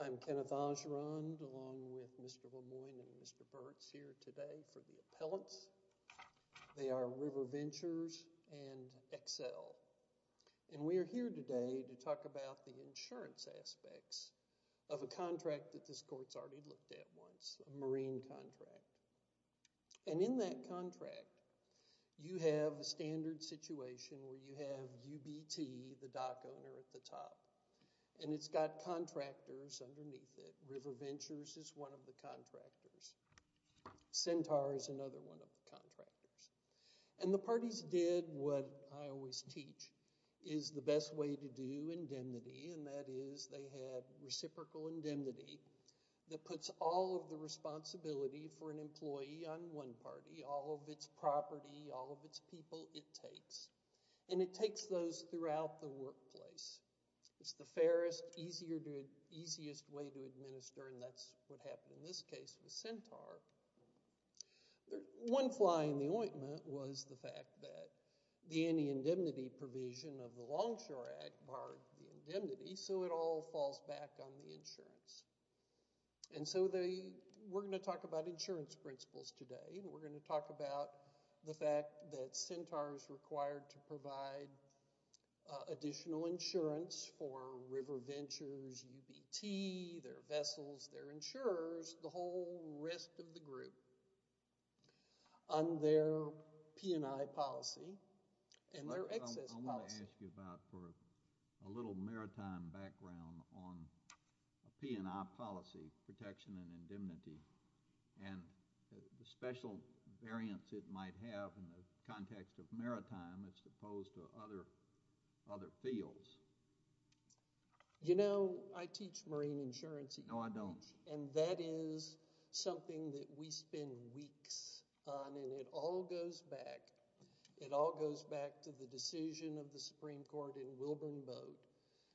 I'm Kenneth Augerand along with Mr. LeMoyne and Mr. Burtz here today for the appellants. They are River Ventures and Xcel. And we are here today to talk about the insurance aspects of a contract that this court's already looked at once, a marine contract. And in that contract, you have a standard situation where you have UBT, the dock owner at the top, and it's got contractors underneath it. River Ventures is one of the contractors. Centaur is another one of the contractors. And the parties did what I always teach is the best way to do indemnity, and that is they had reciprocal indemnity that puts all of the responsibility for an employee on one party, all of its property, all of its people, it takes. And it takes those throughout the workplace. It's the fairest, easiest way to administer, and that's what happened in this case with Centaur. One fly in the ointment was the fact that the any indemnity provision of the Longshore Act barred the indemnity, so it all falls back on the insurance. And so we're going to talk about insurance principles today. We're going to talk about the fact that Centaur is required to provide additional insurance for River Ventures, UBT, their vessels, their insurers, the whole rest of the group on their P&I policy and their excess policy. I wanted to ask you about for a little maritime background on a P&I policy, protection and indemnity, and the special variance it might have in the context of maritime as opposed to other fields. You know, I teach marine insurance. No, I don't. And that is something that we spend weeks on, and it all goes back. It all goes back to the decision of the Supreme Court in Wilburn Boat,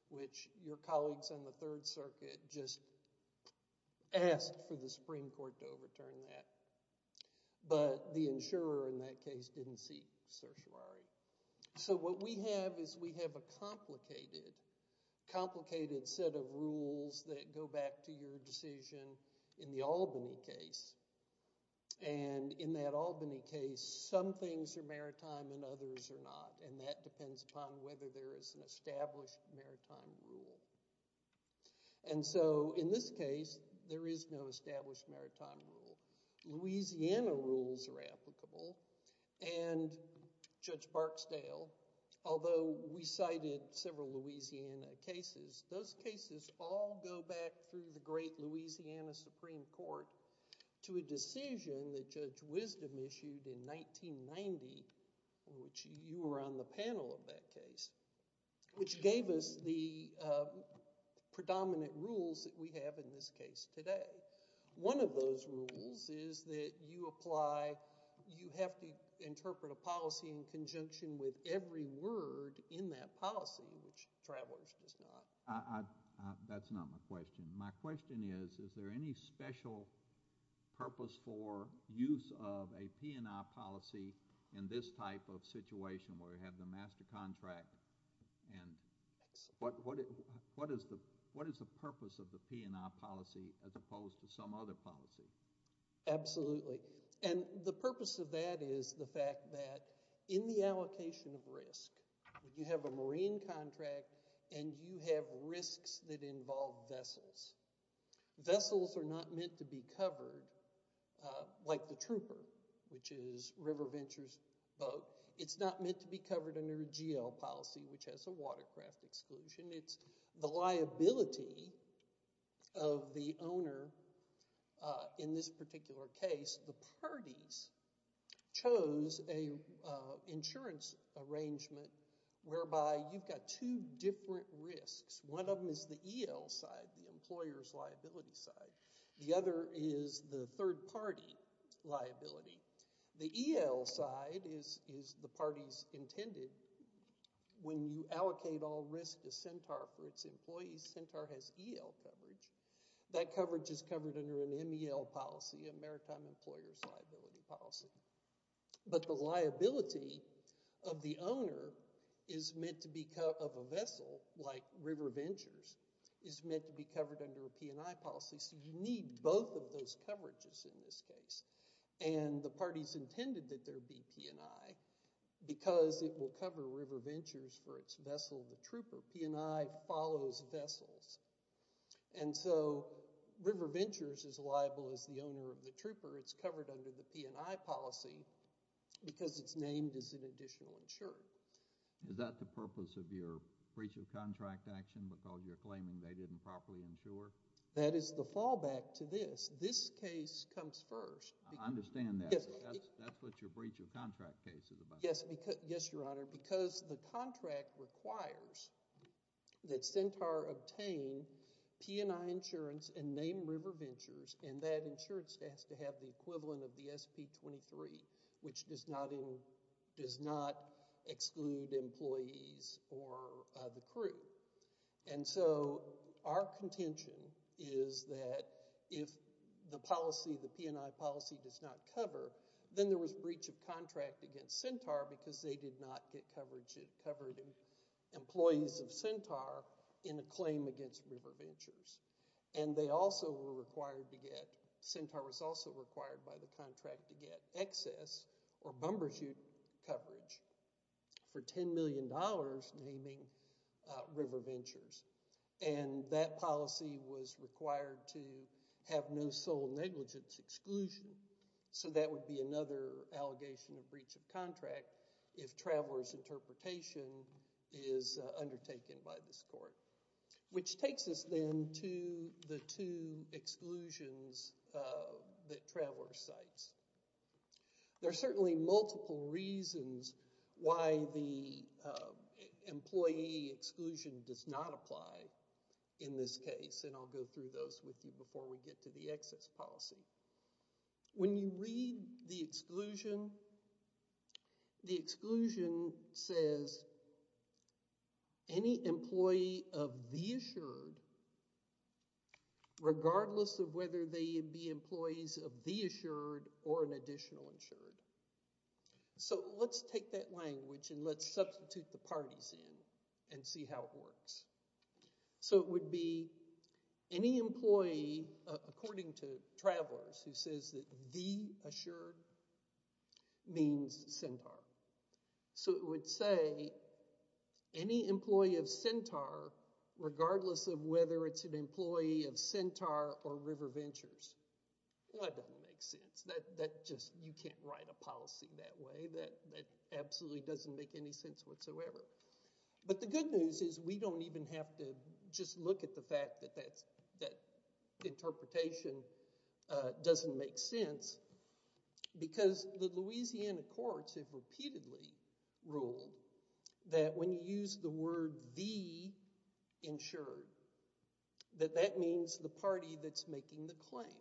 which your colleagues on the Third Circuit just asked for the Supreme Court to overturn that. But the insurer in that case didn't see certiorari. So what we have is we have a complicated, complicated set of rules that go back to your decision in the Albany case. And in that Albany case, some things are maritime and others are not, and that depends upon whether there is an established maritime rule. And so in this case, there is no established maritime rule. Louisiana rules are applicable. And Judge Barksdale, although we cited several Louisiana cases, those cases all go back through the great Louisiana Supreme Court to a decision that Judge Wisdom issued in 1990, which you were on the panel of that case, which gave us the predominant rules that we have in this case today. One of those rules is that you apply—you have to interpret a policy in conjunction with every word in that policy, which travelers does not. That's not my question. My question is, is there any special purpose for use of a P&I policy in this type of situation where you have the master contract? And what is the purpose of the P&I policy as opposed to some other policy? Absolutely. And the purpose of that is the fact that in the allocation of risk, you have a marine contract and you have risks that involve vessels. Vessels are not meant to be covered like the trooper, which is River Ventures' boat. It's not meant to be covered under a GL policy, which has a watercraft exclusion. It's the liability of the owner. In this particular case, the parties chose an insurance arrangement whereby you've got two different risks. One of them is the EL side, the employer's liability side. The other is the third party liability. The EL side is the party's intended. When you allocate all risk to Centaur for its employees, Centaur has EL coverage. That coverage is covered under an MEL policy, a maritime employer's liability policy. But the liability of the owner is meant to be—of a vessel like River Ventures—is meant to be covered under a P&I policy. So you need both of those coverages in this case. And the parties intended that there be P&I because it will cover River Ventures for its vessel, the trooper. P&I follows vessels. And so River Ventures is liable as the owner of the trooper. It's covered under the P&I policy because it's named as an additional insurer. Is that the purpose of your breach of contract action because you're claiming they didn't properly insure? That is the fallback to this. This case comes first. I understand that. That's what your breach of contract case is about. Yes, Your Honor, because the contract requires that Centaur obtain P&I insurance and name River Ventures, and that insurance has to have the equivalent of the SP-23, which does not exclude employees or the crew. And so our contention is that if the policy, the P&I policy, does not cover, then there was breach of contract against Centaur because they did not get coverage. It covered employees of Centaur in a claim against River Ventures. And they also were required to get—Centaur was also required by the contract to get excess or bumber shoot coverage for $10 million naming River Ventures. And that policy was required to have no sole negligence exclusion. So that would be another allegation of breach of contract if Traveler's interpretation is undertaken by this court, which takes us then to the two exclusions that Traveler cites. There are certainly multiple reasons why the employee exclusion does not apply in this case, and I'll go through those with you before we get to the excess policy. When you read the exclusion, the exclusion says any employee of the assured, regardless of whether they be employees of the assured or an additional insured. So let's take that language and let's substitute the parties in and see how it works. So it would be any employee, according to Traveler's, who says that the assured means Centaur. So it would say any employee of Centaur, regardless of whether it's an employee of Centaur or River Ventures. Well, that doesn't make sense. That just—you can't write a policy that way. That absolutely doesn't make any sense whatsoever. But the good news is we don't even have to just look at the fact that that interpretation doesn't make sense because the Louisiana courts have repeatedly ruled that when you use the word the insured, that that means the party that's making the claim.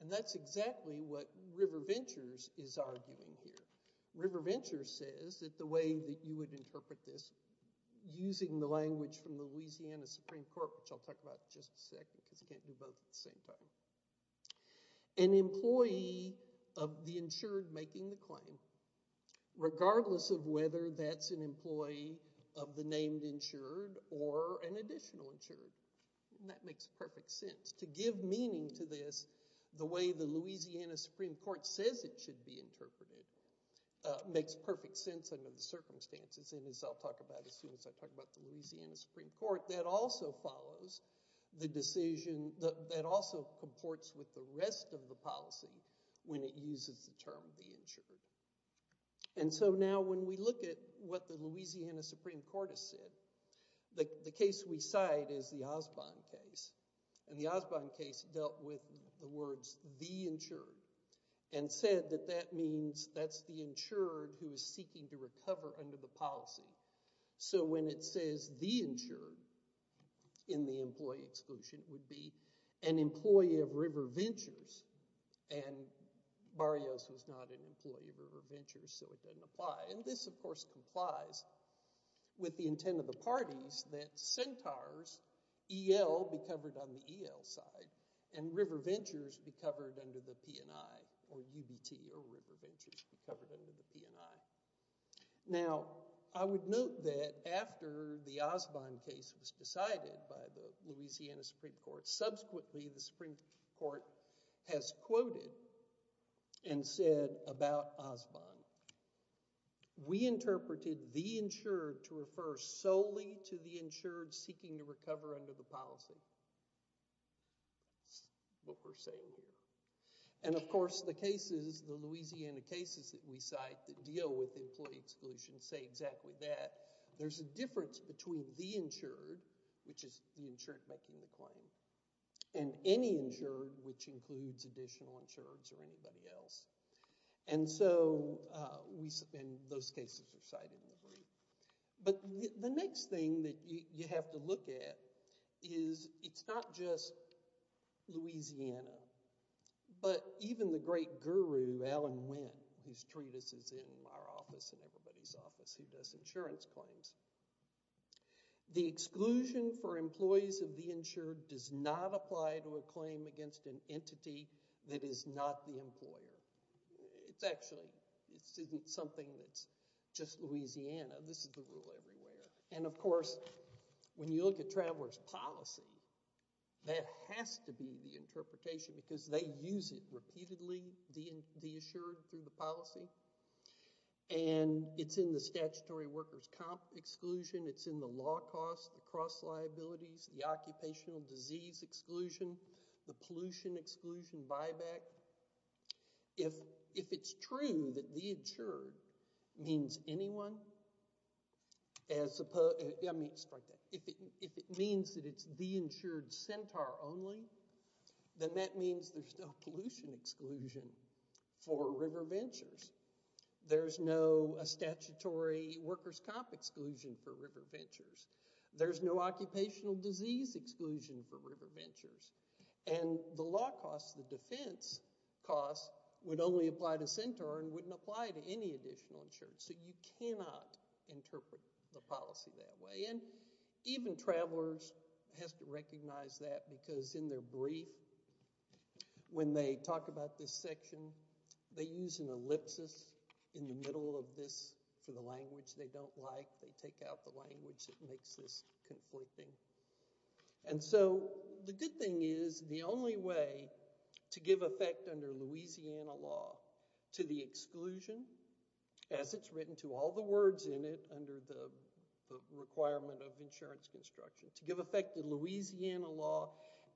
And that's exactly what River Ventures is arguing here. River Ventures says that the way that you would interpret this, using the language from the Louisiana Supreme Court, which I'll talk about in just a second because you can't do both at the same time, an employee of the insured making the claim, regardless of whether that's an employee of the named insured or an additional insured. And that makes perfect sense. To give meaning to this the way the Louisiana Supreme Court says it should be interpreted makes perfect sense under the circumstances. And as I'll talk about as soon as I talk about the Louisiana Supreme Court, that also follows the decision that also comports with the rest of the policy when it uses the term the insured. And so now when we look at what the Louisiana Supreme Court has said, the case we cite is the Osbon case. And the Osbon case dealt with the words the insured and said that that means that's the insured who is seeking to recover under the policy. So when it says the insured in the employee exclusion, it would be an employee of River Ventures. And Barrios was not an employee of River Ventures, so it doesn't apply. And this, of course, complies with the intent of the parties that Centaur's EL be covered on the EL side and River Ventures be covered under the P&I or UBT or River Ventures be covered under the P&I. Now, I would note that after the Osbon case was decided by the Louisiana Supreme Court, subsequently the Supreme Court has quoted and said about Osbon, we interpreted the insured to refer solely to the insured seeking to recover under the policy. That's what we're saying here. And, of course, the cases, the Louisiana cases that we cite that deal with employee exclusion say exactly that. There's a difference between the insured, which is the insured making the claim, and any insured, which includes additional insureds or anybody else. And so those cases are cited in the brief. But the next thing that you have to look at is it's not just Louisiana, but even the great guru, Alan Wynn, whose treatise is in our office and everybody's office who does insurance claims. The exclusion for employees of the insured does not apply to a claim against an entity that is not the employer. It's actually, this isn't something that's just Louisiana. This is the rule everywhere. And, of course, when you look at travelers' policy, that has to be the interpretation because they use it repeatedly, the insured, through the policy. And it's in the statutory workers' comp exclusion. It's in the law costs, the cross liabilities, the occupational disease exclusion, the pollution exclusion buyback. If it's true that the insured means anyone, if it means that it's the insured centaur only, then that means there's no pollution exclusion for river ventures. There's no statutory workers' comp exclusion for river ventures. There's no occupational disease exclusion for river ventures. And the law costs, the defense costs, would only apply to centaur and wouldn't apply to any additional insured. So you cannot interpret the policy that way. And even travelers have to recognize that because in their brief, when they talk about this section, they use an ellipsis in the middle of this for the language they don't like. They take out the language that makes this conflicting. And so the good thing is the only way to give effect under Louisiana law to the exclusion, as it's written to all the words in it under the requirement of insurance construction, to give effect to Louisiana law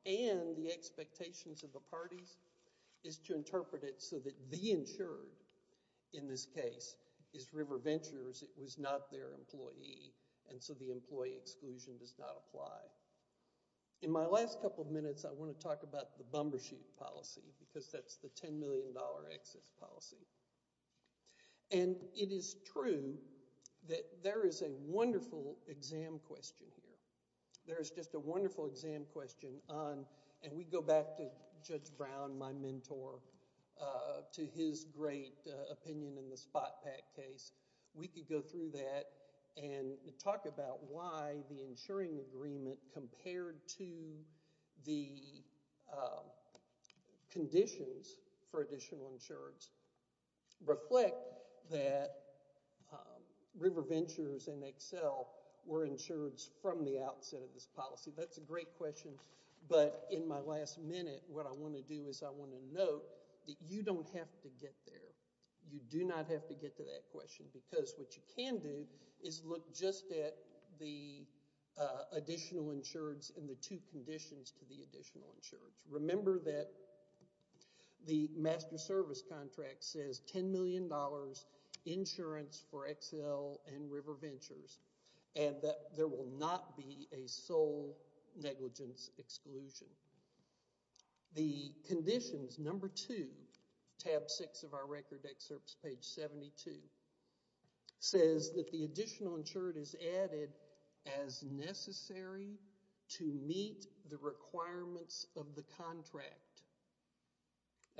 and the expectations of the parties, is to interpret it so that the insured, in this case, is river ventures. It was not their employee. And so the employee exclusion does not apply. In my last couple of minutes, I want to talk about the bumper sheet policy because that's the $10 million excess policy. And it is true that there is a wonderful exam question here. There is just a wonderful exam question. And we go back to Judge Brown, my mentor, to his great opinion in the spot pack case. We could go through that and talk about why the insuring agreement compared to the conditions for additional insurance reflect that river ventures and Excel were insured from the outset of this policy. That's a great question. But in my last minute, what I want to do is I want to note that you don't have to get there. You do not have to get to that question because what you can do is look just at the additional insurance and the two conditions to the additional insurance. Remember that the master service contract says $10 million insurance for Excel and river ventures and that there will not be a sole negligence exclusion. The conditions, number two, tab six of our record excerpts, page 72, says that the additional insured is added as necessary to meet the requirements of the contract.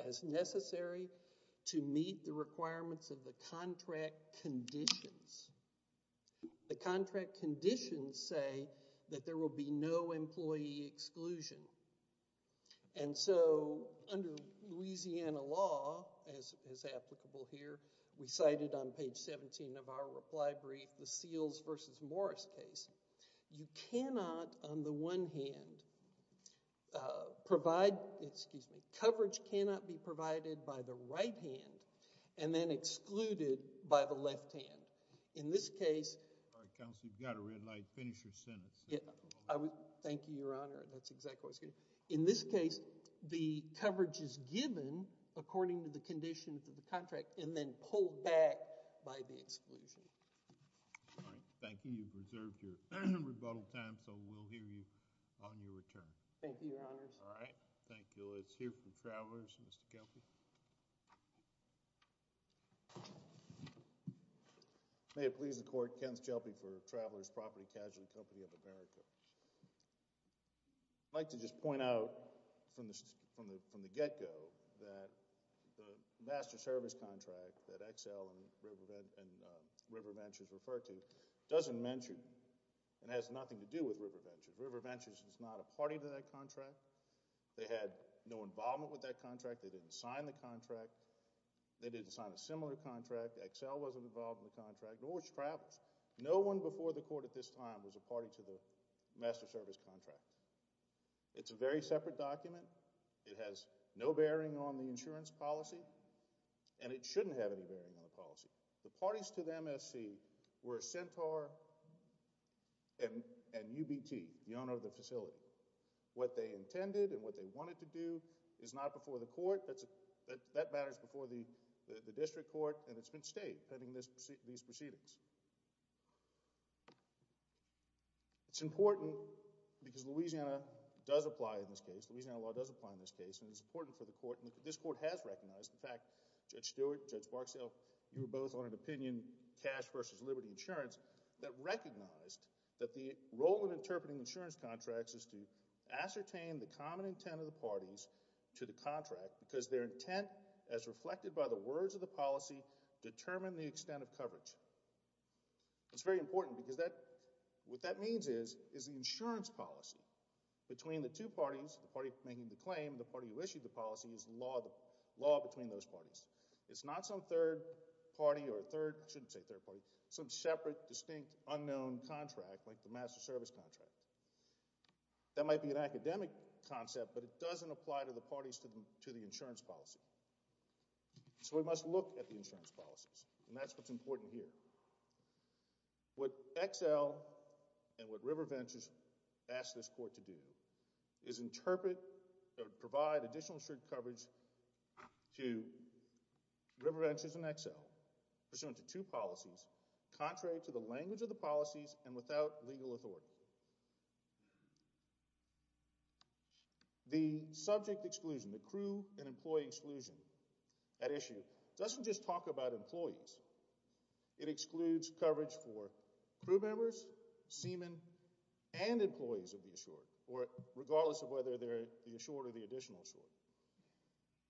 As necessary to meet the requirements of the contract conditions. The contract conditions say that there will be no employee exclusion. And so under Louisiana law, as applicable here, we cited on page 17 of our reply brief the Seals v. Morris case. You cannot, on the one hand, provide, excuse me, coverage cannot be provided by the right hand and then excluded by the left hand. In this case, All right, counsel, you've got a red light. Finish your sentence. Thank you, Your Honor. That's exactly what I was going to say. In this case, the coverage is given according to the conditions of the contract and then pulled back by the exclusion. All right, thank you. You've reserved your rebuttal time, so we'll hear you on your return. Thank you, Your Honors. All right, thank you. Let's hear from Travelers. Mr. Kelpie. May it please the Court, Kent Kelpie for Travelers Property Casualty Company of America. I'd like to just point out from the get-go that the master service contract that XL and River Ventures refer to doesn't mention and has nothing to do with River Ventures. River Ventures is not a party to that contract. They had no involvement with that contract. They didn't sign the contract. They didn't sign a similar contract. XL wasn't involved in the contract, nor was Travelers. No one before the Court at this time was a party to the master service contract. It's a very separate document. It has no bearing on the insurance policy, and it shouldn't have any bearing on the policy. The parties to the MSC were Centaur and UBT, the owner of the facility. What they intended and what they wanted to do is not before the Court. That matters before the district court, and it's been stated in these proceedings. It's important because Louisiana does apply in this case. Louisiana law does apply in this case, and it's important for the Court. This Court has recognized. In fact, Judge Stewart, Judge Barksdale, you were both on an opinion, cash versus liberty insurance, that recognized that the role in interpreting insurance contracts is to ascertain the common intent of the parties to the contract because their intent, as reflected by the words of the policy, determine the extent of coverage. It's very important because what that means is the insurance policy between the two parties, the party making the claim, the party who issued the policy is the law between those parties. It's not some third party or third—I shouldn't say third party— but it's not some separate, distinct, unknown contract like the master service contract. That might be an academic concept, but it doesn't apply to the parties to the insurance policy. So we must look at the insurance policies, and that's what's important here. What XL and what RiverVentures asked this Court to do is interpret or provide additional coverage to RiverVentures and XL pursuant to two policies contrary to the language of the policies and without legal authority. The subject exclusion, the crew and employee exclusion at issue, doesn't just talk about employees. It excludes coverage for crew members, seamen, and employees of the assured, regardless of whether they're the assured or the additional assured.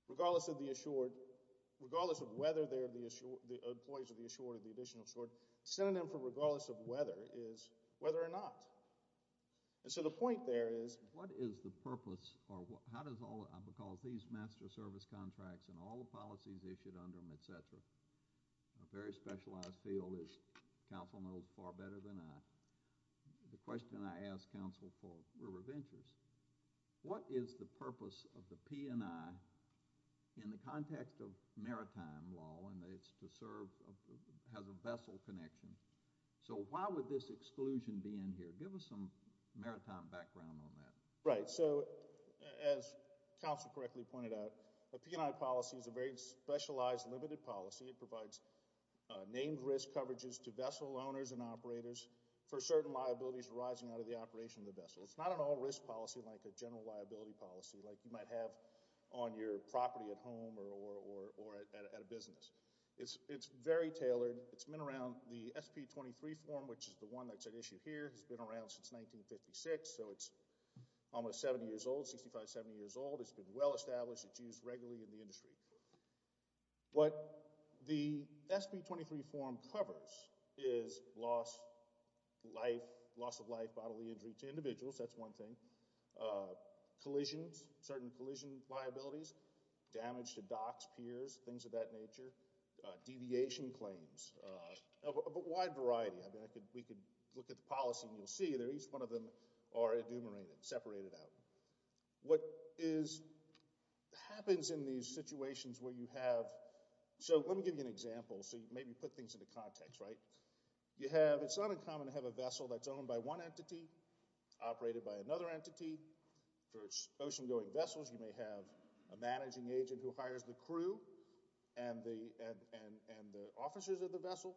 Regardless of the assured, regardless of whether they're the employees of the assured or the additional assured, synonym for regardless of whether is whether or not. And so the point there is, what is the purpose, or how does all—because these master service contracts and all the policies issued under them, et cetera, a very specialized field, as counsel knows far better than I, the question I ask counsel for RiverVentures, what is the purpose of the P&I in the context of maritime law and it's to serve—has a vessel connection. So why would this exclusion be in here? Give us some maritime background on that. Right, so as counsel correctly pointed out, the P&I policy is a very specialized, limited policy. It provides named risk coverages to vessel owners and operators for certain liabilities arising out of the operation of the vessel. It's not an all-risk policy like a general liability policy like you might have on your property at home or at a business. It's very tailored. It's been around—the SP-23 form, which is the one that's at issue here, has been around since 1956, so it's almost 70 years old, 65, 70 years old. It's been well established. It's used regularly in the industry. What the SP-23 form covers is loss of life, bodily injury to individuals, that's one thing, collisions, certain collision liabilities, damage to docks, piers, things of that nature, deviation claims, a wide variety. We could look at the policy and you'll see that each one of them are enumerated, separated out. What happens in these situations where you have— so let me give you an example so you maybe put things into context, right? You have—it's not uncommon to have a vessel that's owned by one entity, operated by another entity. For ocean-going vessels, you may have a managing agent who hires the crew and the officers of the vessel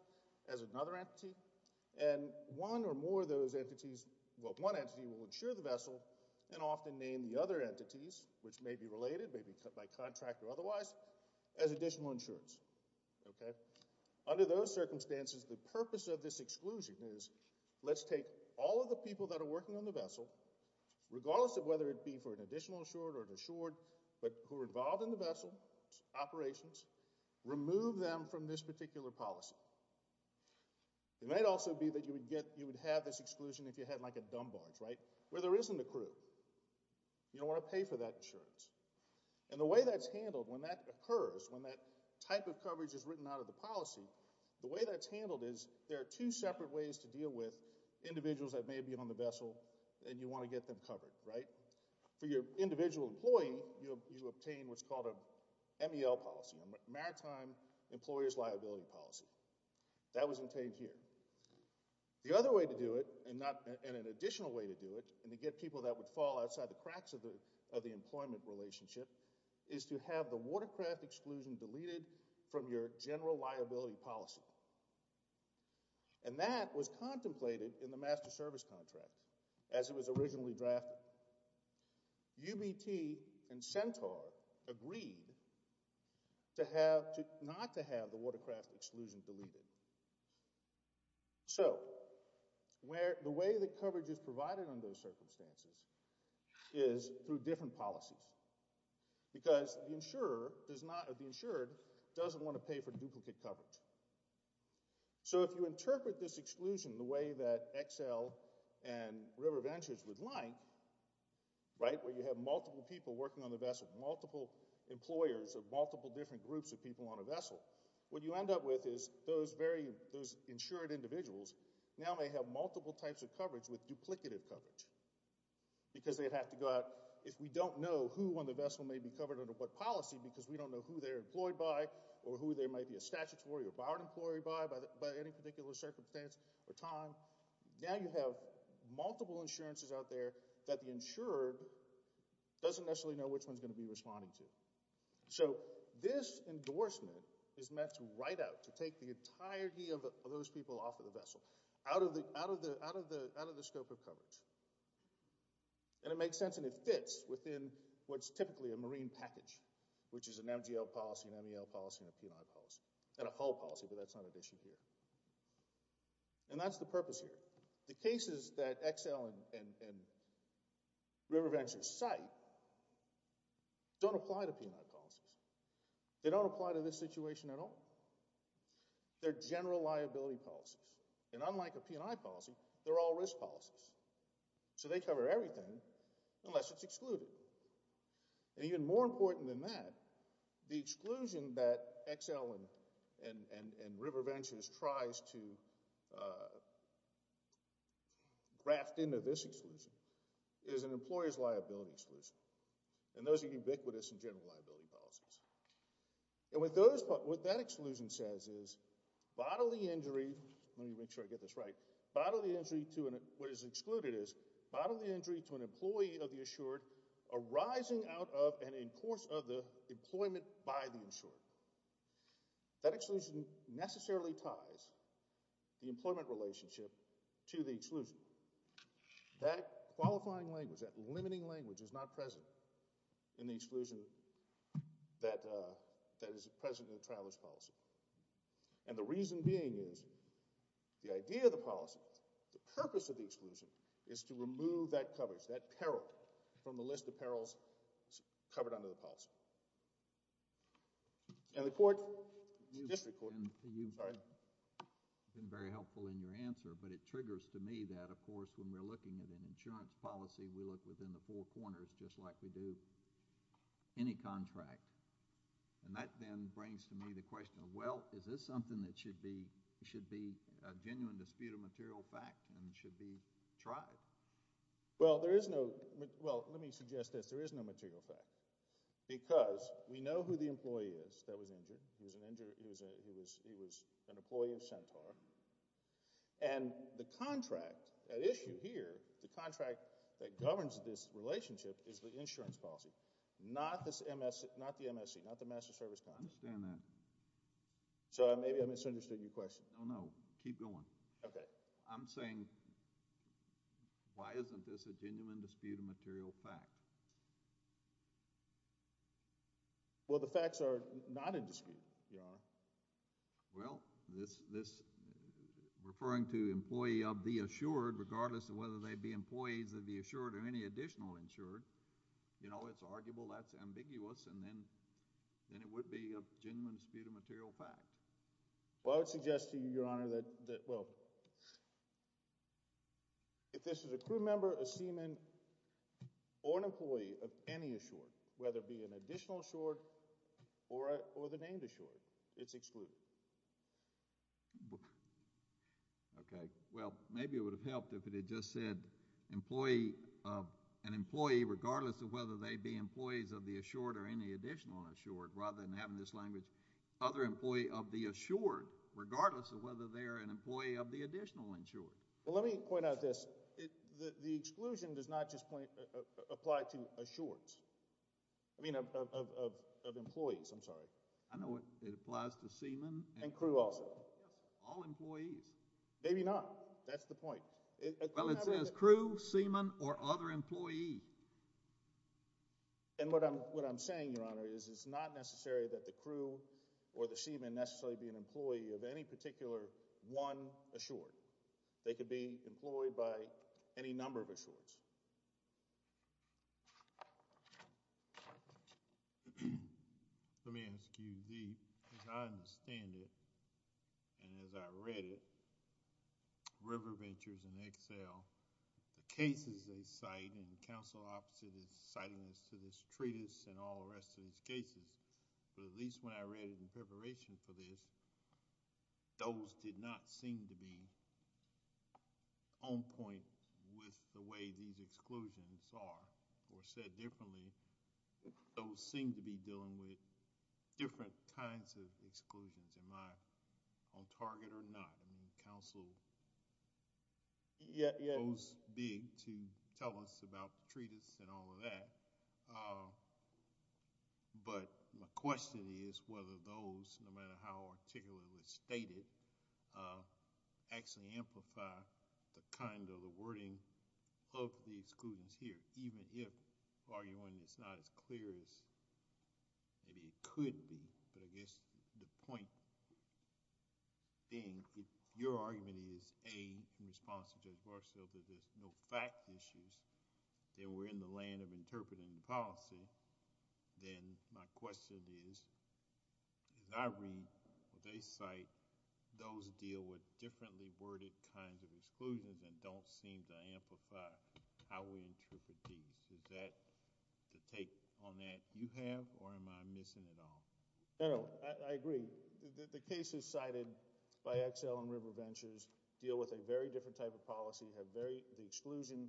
as another entity. And one or more of those entities—well, one entity will insure the vessel, and often name the other entities, which may be related, may be cut by contract or otherwise, as additional insurance. Under those circumstances, the purpose of this exclusion is, let's take all of the people that are working on the vessel, regardless of whether it be for an additional insurer or an insured, but who are involved in the vessel's operations, remove them from this particular policy. It might also be that you would have this exclusion if you had like a dumb barge, right? Where there isn't a crew. You don't want to pay for that insurance. And the way that's handled when that occurs, when that type of coverage is written out of the policy, the way that's handled is there are two separate ways to deal with individuals that may be on the vessel, and you want to get them covered, right? For your individual employee, you obtain what's called a MEL policy, a Maritime Employer's Liability Policy. That was obtained here. The other way to do it, and an additional way to do it, and to get people that would fall outside the cracks of the employment relationship, is to have the watercraft exclusion deleted from your general liability policy. And that was contemplated in the Master Service Contract, as it was originally drafted. UBT and Centaur agreed not to have the watercraft exclusion deleted. So the way that coverage is provided under those circumstances is through different policies, because the insured doesn't want to pay for duplicate coverage. So if you interpret this exclusion the way that XL and River Ventures would like, where you have multiple people working on the vessel, multiple employers of multiple different groups of people on a vessel, what you end up with is those insured individuals now may have multiple types of coverage with duplicative coverage, because they'd have to go out. If we don't know who on the vessel may be covered under what policy, because we don't know who they're employed by or who there might be a statutory or barred employee by, by any particular circumstance or time, now you have multiple insurances out there that the insured doesn't necessarily know which one's going to be responding to. So this endorsement is meant to ride out, to take the entirety of those people off of the vessel, out of the scope of coverage. And it makes sense, and it fits within what's typically a marine package, which is an MGL policy, an MEL policy, and a P&I policy, and a hull policy, but that's not an issue here. And that's the purpose here. The cases that XL and River Ventures cite don't apply to P&I policies. They don't apply to this situation at all. They're general liability policies. And unlike a P&I policy, they're all risk policies. So they cover everything unless it's excluded. And even more important than that, the exclusion that XL and River Ventures tries to graft into this exclusion is an employer's liability exclusion. And those are ubiquitous in general liability policies. And what that exclusion says is bodily injury, let me make sure I get this right, bodily injury to an, what is excluded is bodily injury to an employee of the assured arising out of and in course of the employment by the insured. That exclusion necessarily ties the employment relationship to the exclusion. That qualifying language, that limiting language is not present in the exclusion that is present in the traveler's policy. And the reason being is the idea of the policy, the purpose of the exclusion is to remove that coverage, that peril from the list of perils covered under the policy. And the court, the district court, sorry. You've been very helpful in your answer, but it triggers to me that, of course, when we're looking at an insurance policy, we look within the four corners just like we do any contract. And that then brings to me the question, well, is this something that should be a genuine dispute of material fact and should be tried? Well, there is no – well, let me suggest this. There is no material fact because we know who the employee is that was injured. He was an employee of Centaur. And the contract at issue here, the contract that governs this relationship is the insurance policy, not the MSE, not the Master Service Contract. I understand that. Sorry, maybe I misunderstood your question. No, no. Keep going. Okay. I'm saying why isn't this a genuine dispute of material fact? Well, the facts are not in dispute, Your Honor. Well, this – referring to employee of the assured, regardless of whether they be employees of the assured or any additional insured, you know, it's arguable, that's ambiguous, and then it would be a genuine dispute of material fact. Well, I would suggest to you, Your Honor, that – well, if this is a crew member, a seaman, or an employee of any assured, whether it be an additional assured or the named assured, it's excluded. Okay. Well, maybe it would have helped if it had just said an employee, regardless of whether they be employees of the assured or any additional assured, rather than having this language, other employee of the assured, regardless of whether they are an employee of the additional insured. Well, let me point out this. The exclusion does not just apply to assureds – I mean, of employees. I'm sorry. I know it applies to seaman. And crew also. All employees. Maybe not. That's the point. Well, it says crew, seaman, or other employee. And what I'm saying, Your Honor, is it's not necessary that the crew or the seaman necessarily be an employee of any particular one assured. They could be employed by any number of assureds. Let me ask you, as I understand it, and as I read it, River Ventures and Excel, the cases they cite, and the counsel opposite is citing this to this treatise and all the rest of these cases, but at least when I read it in preparation for this, those did not seem to be on point with the way these exclusions are. Or said differently, those seem to be dealing with different kinds of exclusions. Am I on target or not? And the counsel goes big to tell us about the treatise and all of that. But my question is whether those, no matter how articulately stated, actually amplify the kind of the wording of the exclusions here, even if arguing it's not as clear as maybe it could be. But I guess the point being, if your argument is A, in response to Judge Barstow, that there's no fact issues, then we're in the land of interpreting the policy, then my question is, as I read what they cite, those deal with differently worded kinds of exclusions and don't seem to amplify how we interpret these. Is that the take on that you have or am I missing it all? I agree. The cases cited by Excel and River Ventures deal with a very different type of policy. The exclusion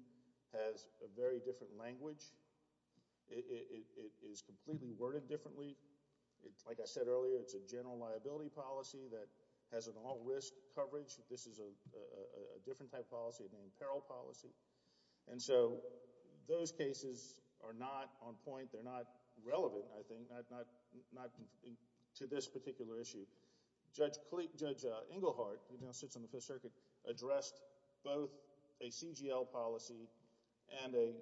has a very different language. It is completely worded differently. Like I said earlier, it's a general liability policy that has an all risk coverage. This is a different type of policy, an imperil policy. And so those cases are not on point. They're not relevant, I think, to this particular issue. Judge Engelhardt, who now sits on the Fifth Circuit, addressed both a CGL policy and a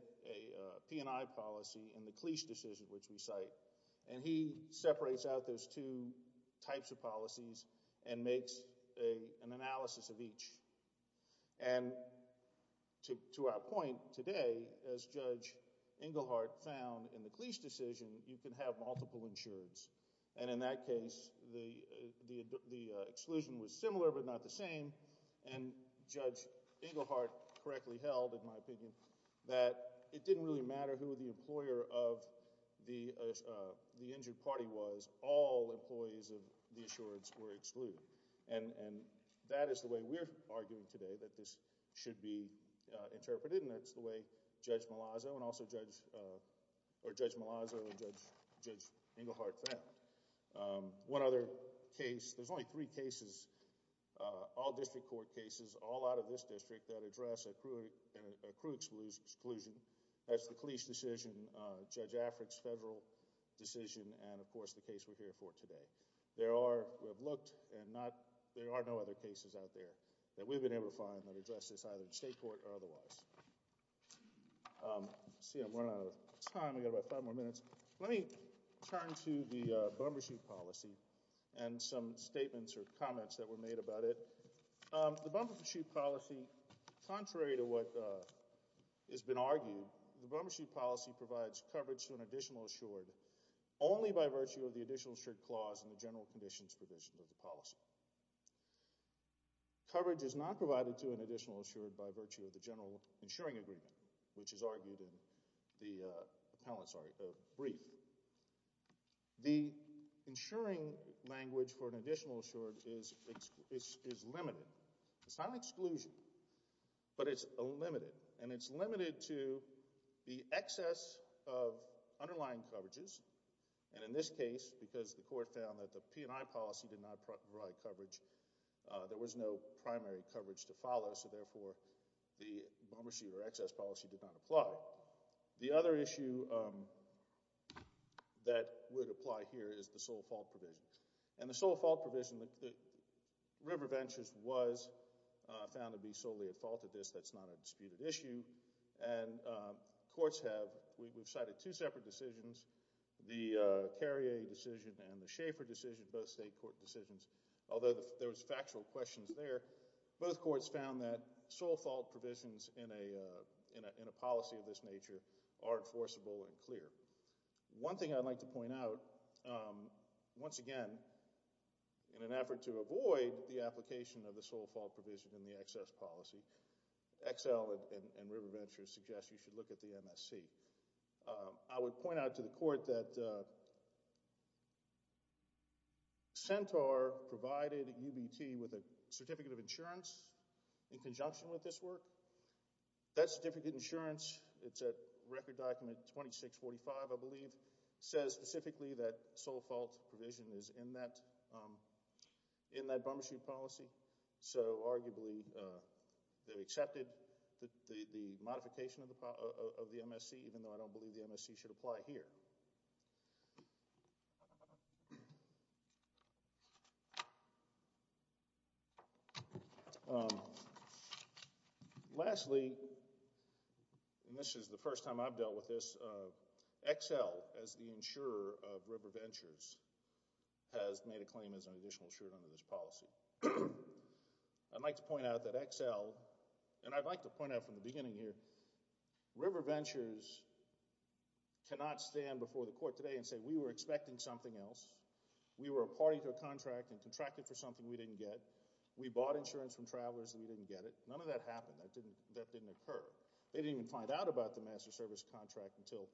P&I policy in the Cleese decision, which we cite. And he separates out those two types of policies and makes an analysis of each. And to our point today, as Judge Engelhardt found in the Cleese decision, you can have multiple insureds. And in that case, the exclusion was similar but not the same. And Judge Engelhardt correctly held, in my opinion, that it didn't really matter who the employer of the injured party was. All employees of the insureds were excluded. And that is the way we're arguing today that this should be interpreted, and that's the way Judge Malazzo and Judge Engelhardt found. One other case, there's only three cases, all district court cases, all out of this district that address accrued exclusion. That's the Cleese decision, Judge Afric's federal decision, and, of course, the case we're here for today. There are, we have looked, and there are no other cases out there that we've been able to find that address this either in state court or otherwise. Let's see, I'm running out of time. We've got about five more minutes. Let me turn to the bumbershoot policy and some statements or comments that were made about it. The bumbershoot policy, contrary to what has been argued, the bumbershoot policy provides coverage to an additional insured only by virtue of the additional insured clause in the general conditions provision of the policy. Coverage is not provided to an additional insured by virtue of the general insuring agreement, which is argued in the brief. The insuring language for an additional insured is limited. It's not an exclusion, but it's limited, and it's limited to the excess of underlying coverages, and in this case, because the court found that the P&I policy did not provide coverage, there was no primary coverage to follow, so therefore the bumbershoot or excess policy did not apply. The other issue that would apply here is the sole fault provision, and the sole fault provision, River Ventures was found to be solely at fault at this. That's not a disputed issue, and courts have cited two separate decisions, the Carrier decision and the Schaefer decision, both state court decisions. Although there was factual questions there, both courts found that sole fault provisions in a policy of this nature are enforceable and clear. One thing I'd like to point out, once again, in an effort to avoid the application of the sole fault provision in the excess policy, XL and River Ventures suggest you should look at the MSC. I would point out to the court that Centaur provided UBT with a certificate of insurance in conjunction with this work. That certificate of insurance, it's at record document 2645, I believe, says specifically that sole fault provision is in that bumbershoot policy, so arguably they've accepted the modification of the MSC, even though I don't believe the MSC should apply here. Lastly, and this is the first time I've dealt with this, XL, as the insurer of River Ventures, has made a claim as an additional insurer under this policy. I'd like to point out that XL, and I'd like to point out from the beginning here, River Ventures cannot stand before the court today and say, we were expecting something else. We were a party to a contract and contracted for something we didn't get. We bought insurance from travelers and we didn't get it. None of that happened. That didn't occur. They didn't even find out about the master service contract until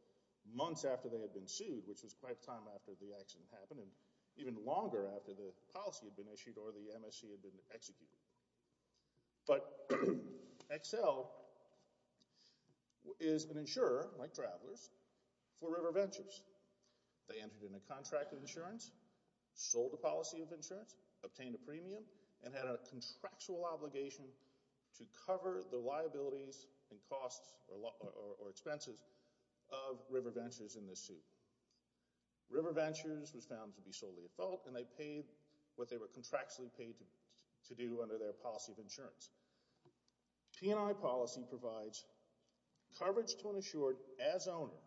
months after they had been sued, which was quite a time after the accident happened, and even longer after the policy had been issued or the MSC had been executed. But XL is an insurer, like travelers, for River Ventures. They entered in a contract of insurance, sold a policy of insurance, obtained a premium, and had a contractual obligation to cover the liabilities and costs or expenses of River Ventures in this suit. River Ventures was found to be solely at fault, and they paid what they were contractually paid to do under their policy of insurance. P&I policy provides coverage to an insured as owner,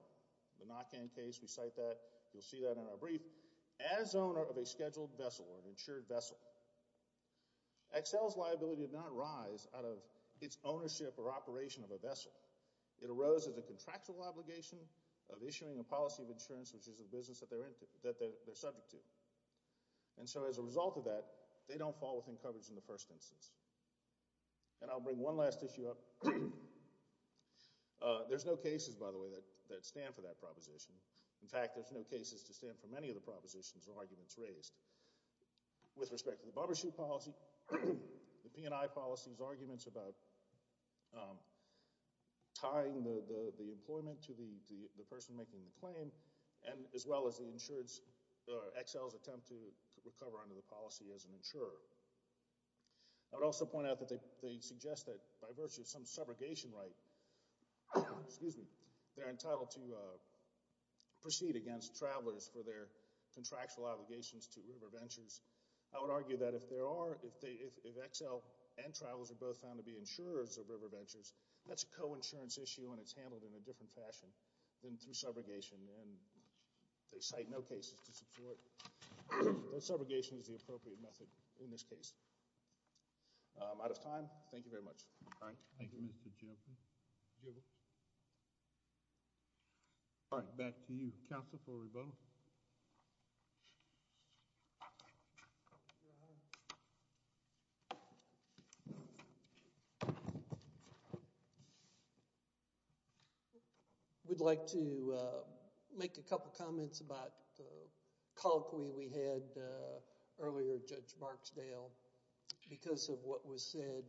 the knock-in case, we cite that, you'll see that in our brief, as owner of a scheduled vessel or an insured vessel. XL's liability did not rise out of its ownership or operation of a vessel. It arose as a contractual obligation of issuing a policy of insurance, which is a business that they're subject to. And so as a result of that, they don't fall within coverage in the first instance. And I'll bring one last issue up. There's no cases, by the way, that stand for that proposition. In fact, there's no cases to stand for many of the propositions or arguments raised. With respect to the barbershop policy, the P&I policy's arguments about tying the employment to the person making the claim, as well as the insurance, XL's attempt to recover under the policy as an insurer. I would also point out that they suggest that by virtue of some subrogation right, they're entitled to proceed against travelers for their contractual obligations to RiverVentures. I would argue that if XL and travelers are both found to be insurers of RiverVentures, that's a coinsurance issue and it's handled in a different fashion than through subrogation. And they cite no cases to support that subrogation is the appropriate method in this case. I'm out of time. Thank you very much. All right. Thank you, Mr. Chairman. All right. Back to you, counsel, for rebuttal. We'd like to make a couple comments about the colloquy we had earlier, Judge Marksdale, because of what was said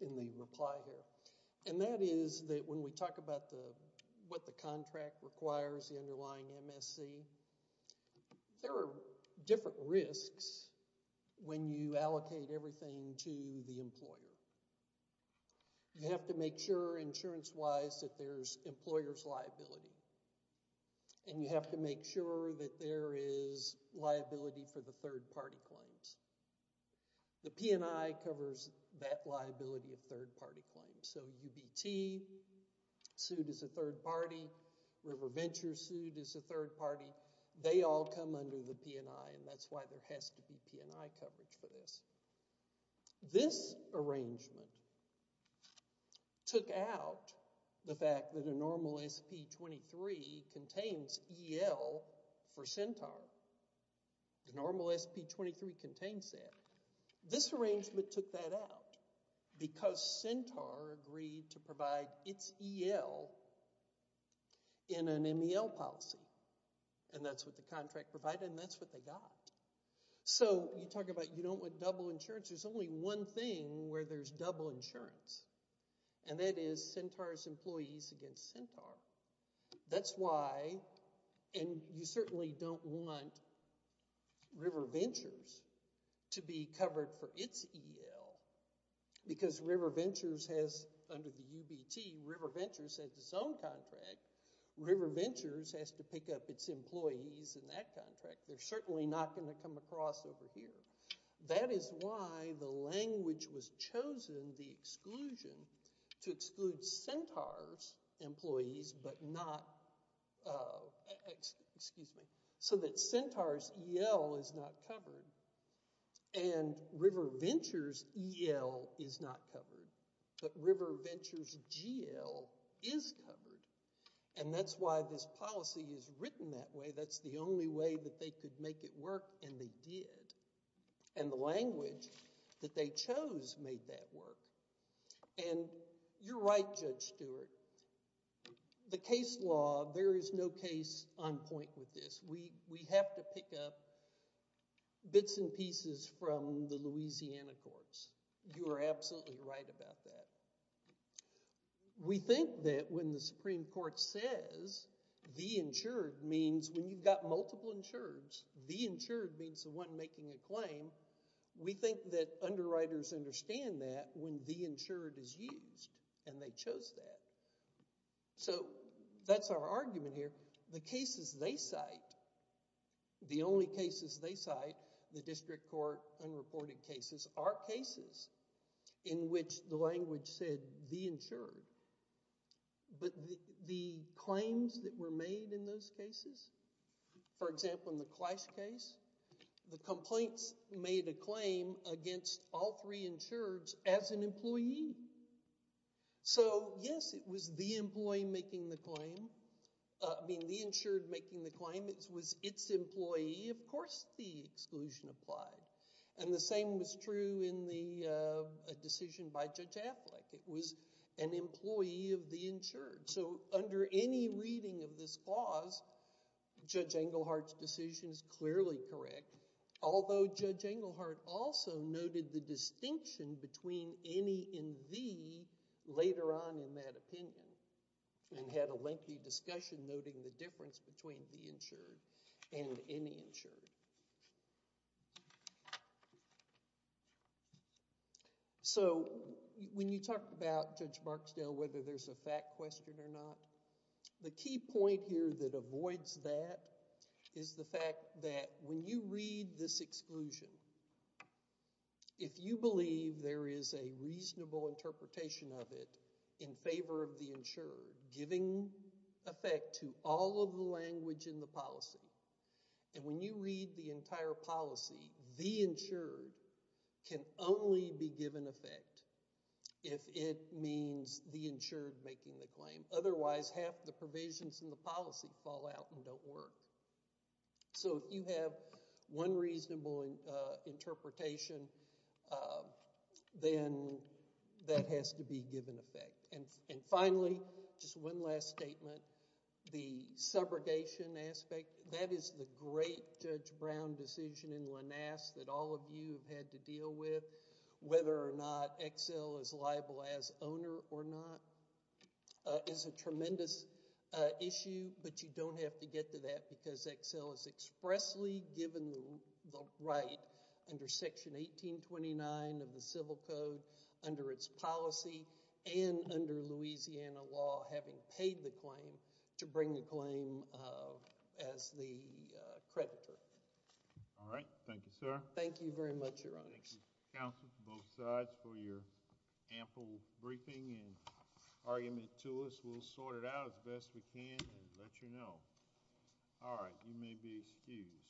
in the reply here. And that is that when we talk about what the contract requires, the underlying MSC, there are different risks when you allocate everything to the employer. You have to make sure, insurance-wise, that there's employer's liability. And you have to make sure that there is liability for the third-party claims. The P&I covers that liability of third-party claims. So UBT sued as a third-party. RiverVentures sued as a third-party. They all come under the P&I, and that's why there has to be P&I coverage for this. This arrangement took out the fact that a normal SP-23 contains EL for Centaur. The normal SP-23 contains that. This arrangement took that out because Centaur agreed to provide its EL in an MEL policy. And that's what the contract provided, and that's what they got. So you talk about you don't want double insurance. There's only one thing where there's double insurance, and that is Centaur's employees against Centaur. That's why, and you certainly don't want RiverVentures to be covered for its EL because RiverVentures has, under the UBT, RiverVentures has its own contract. RiverVentures has to pick up its employees in that contract. They're certainly not going to come across over here. That is why the language was chosen, the exclusion, to exclude Centaur's employees but not— excuse me, so that Centaur's EL is not covered and RiverVentures' EL is not covered, but RiverVentures' GL is covered, and that's why this policy is written that way. That's the only way that they could make it work, and they did. And the language that they chose made that work. And you're right, Judge Stewart. The case law, there is no case on point with this. We have to pick up bits and pieces from the Louisiana courts. You are absolutely right about that. We think that when the Supreme Court says, the insured means when you've got multiple insureds, the insured means the one making a claim. We think that underwriters understand that when the insured is used, and they chose that. So that's our argument here. The cases they cite, the only cases they cite, the district court unreported cases, are cases in which the language said the insured. But the claims that were made in those cases, for example, in the Clash case, the complaints made a claim against all three insureds as an employee. So, yes, it was the employee making the claim. I mean the insured making the claim. It was its employee. Of course the exclusion applied. And the same was true in the decision by Judge Affleck. It was an employee of the insured. So under any reading of this clause, Judge Englehart's decision is clearly correct, although Judge Englehart also noted the distinction between any and the later on in that opinion and had a lengthy discussion noting the difference between the insured and any insured. So when you talk about, Judge Marksdale, whether there's a fact question or not, the key point here that avoids that is the fact that when you read this exclusion, if you believe there is a reasonable interpretation of it in favor of the insured, giving effect to all of the language in the policy, and when you read the entire policy, the insured can only be given effect if it means the insured making the claim. Otherwise, half the provisions in the policy fall out and don't work. So if you have one reasonable interpretation, then that has to be given effect. And finally, just one last statement, the subrogation aspect, that is the great Judge Brown decision in Lanasse that all of you have had to deal with, whether or not Excel is liable as owner or not, is a tremendous issue, but you don't have to get to that because Excel is expressly given the right under Section 1829 of the Civil Code, under its policy, and under Louisiana law, having paid the claim, to bring the claim as the creditor. All right. Thank you, sir. Thank you very much, Your Honors. Thank you, counsel, both sides, for your ample briefing and argument to us. We'll sort it out as best we can and let you know. All right. You may be excused.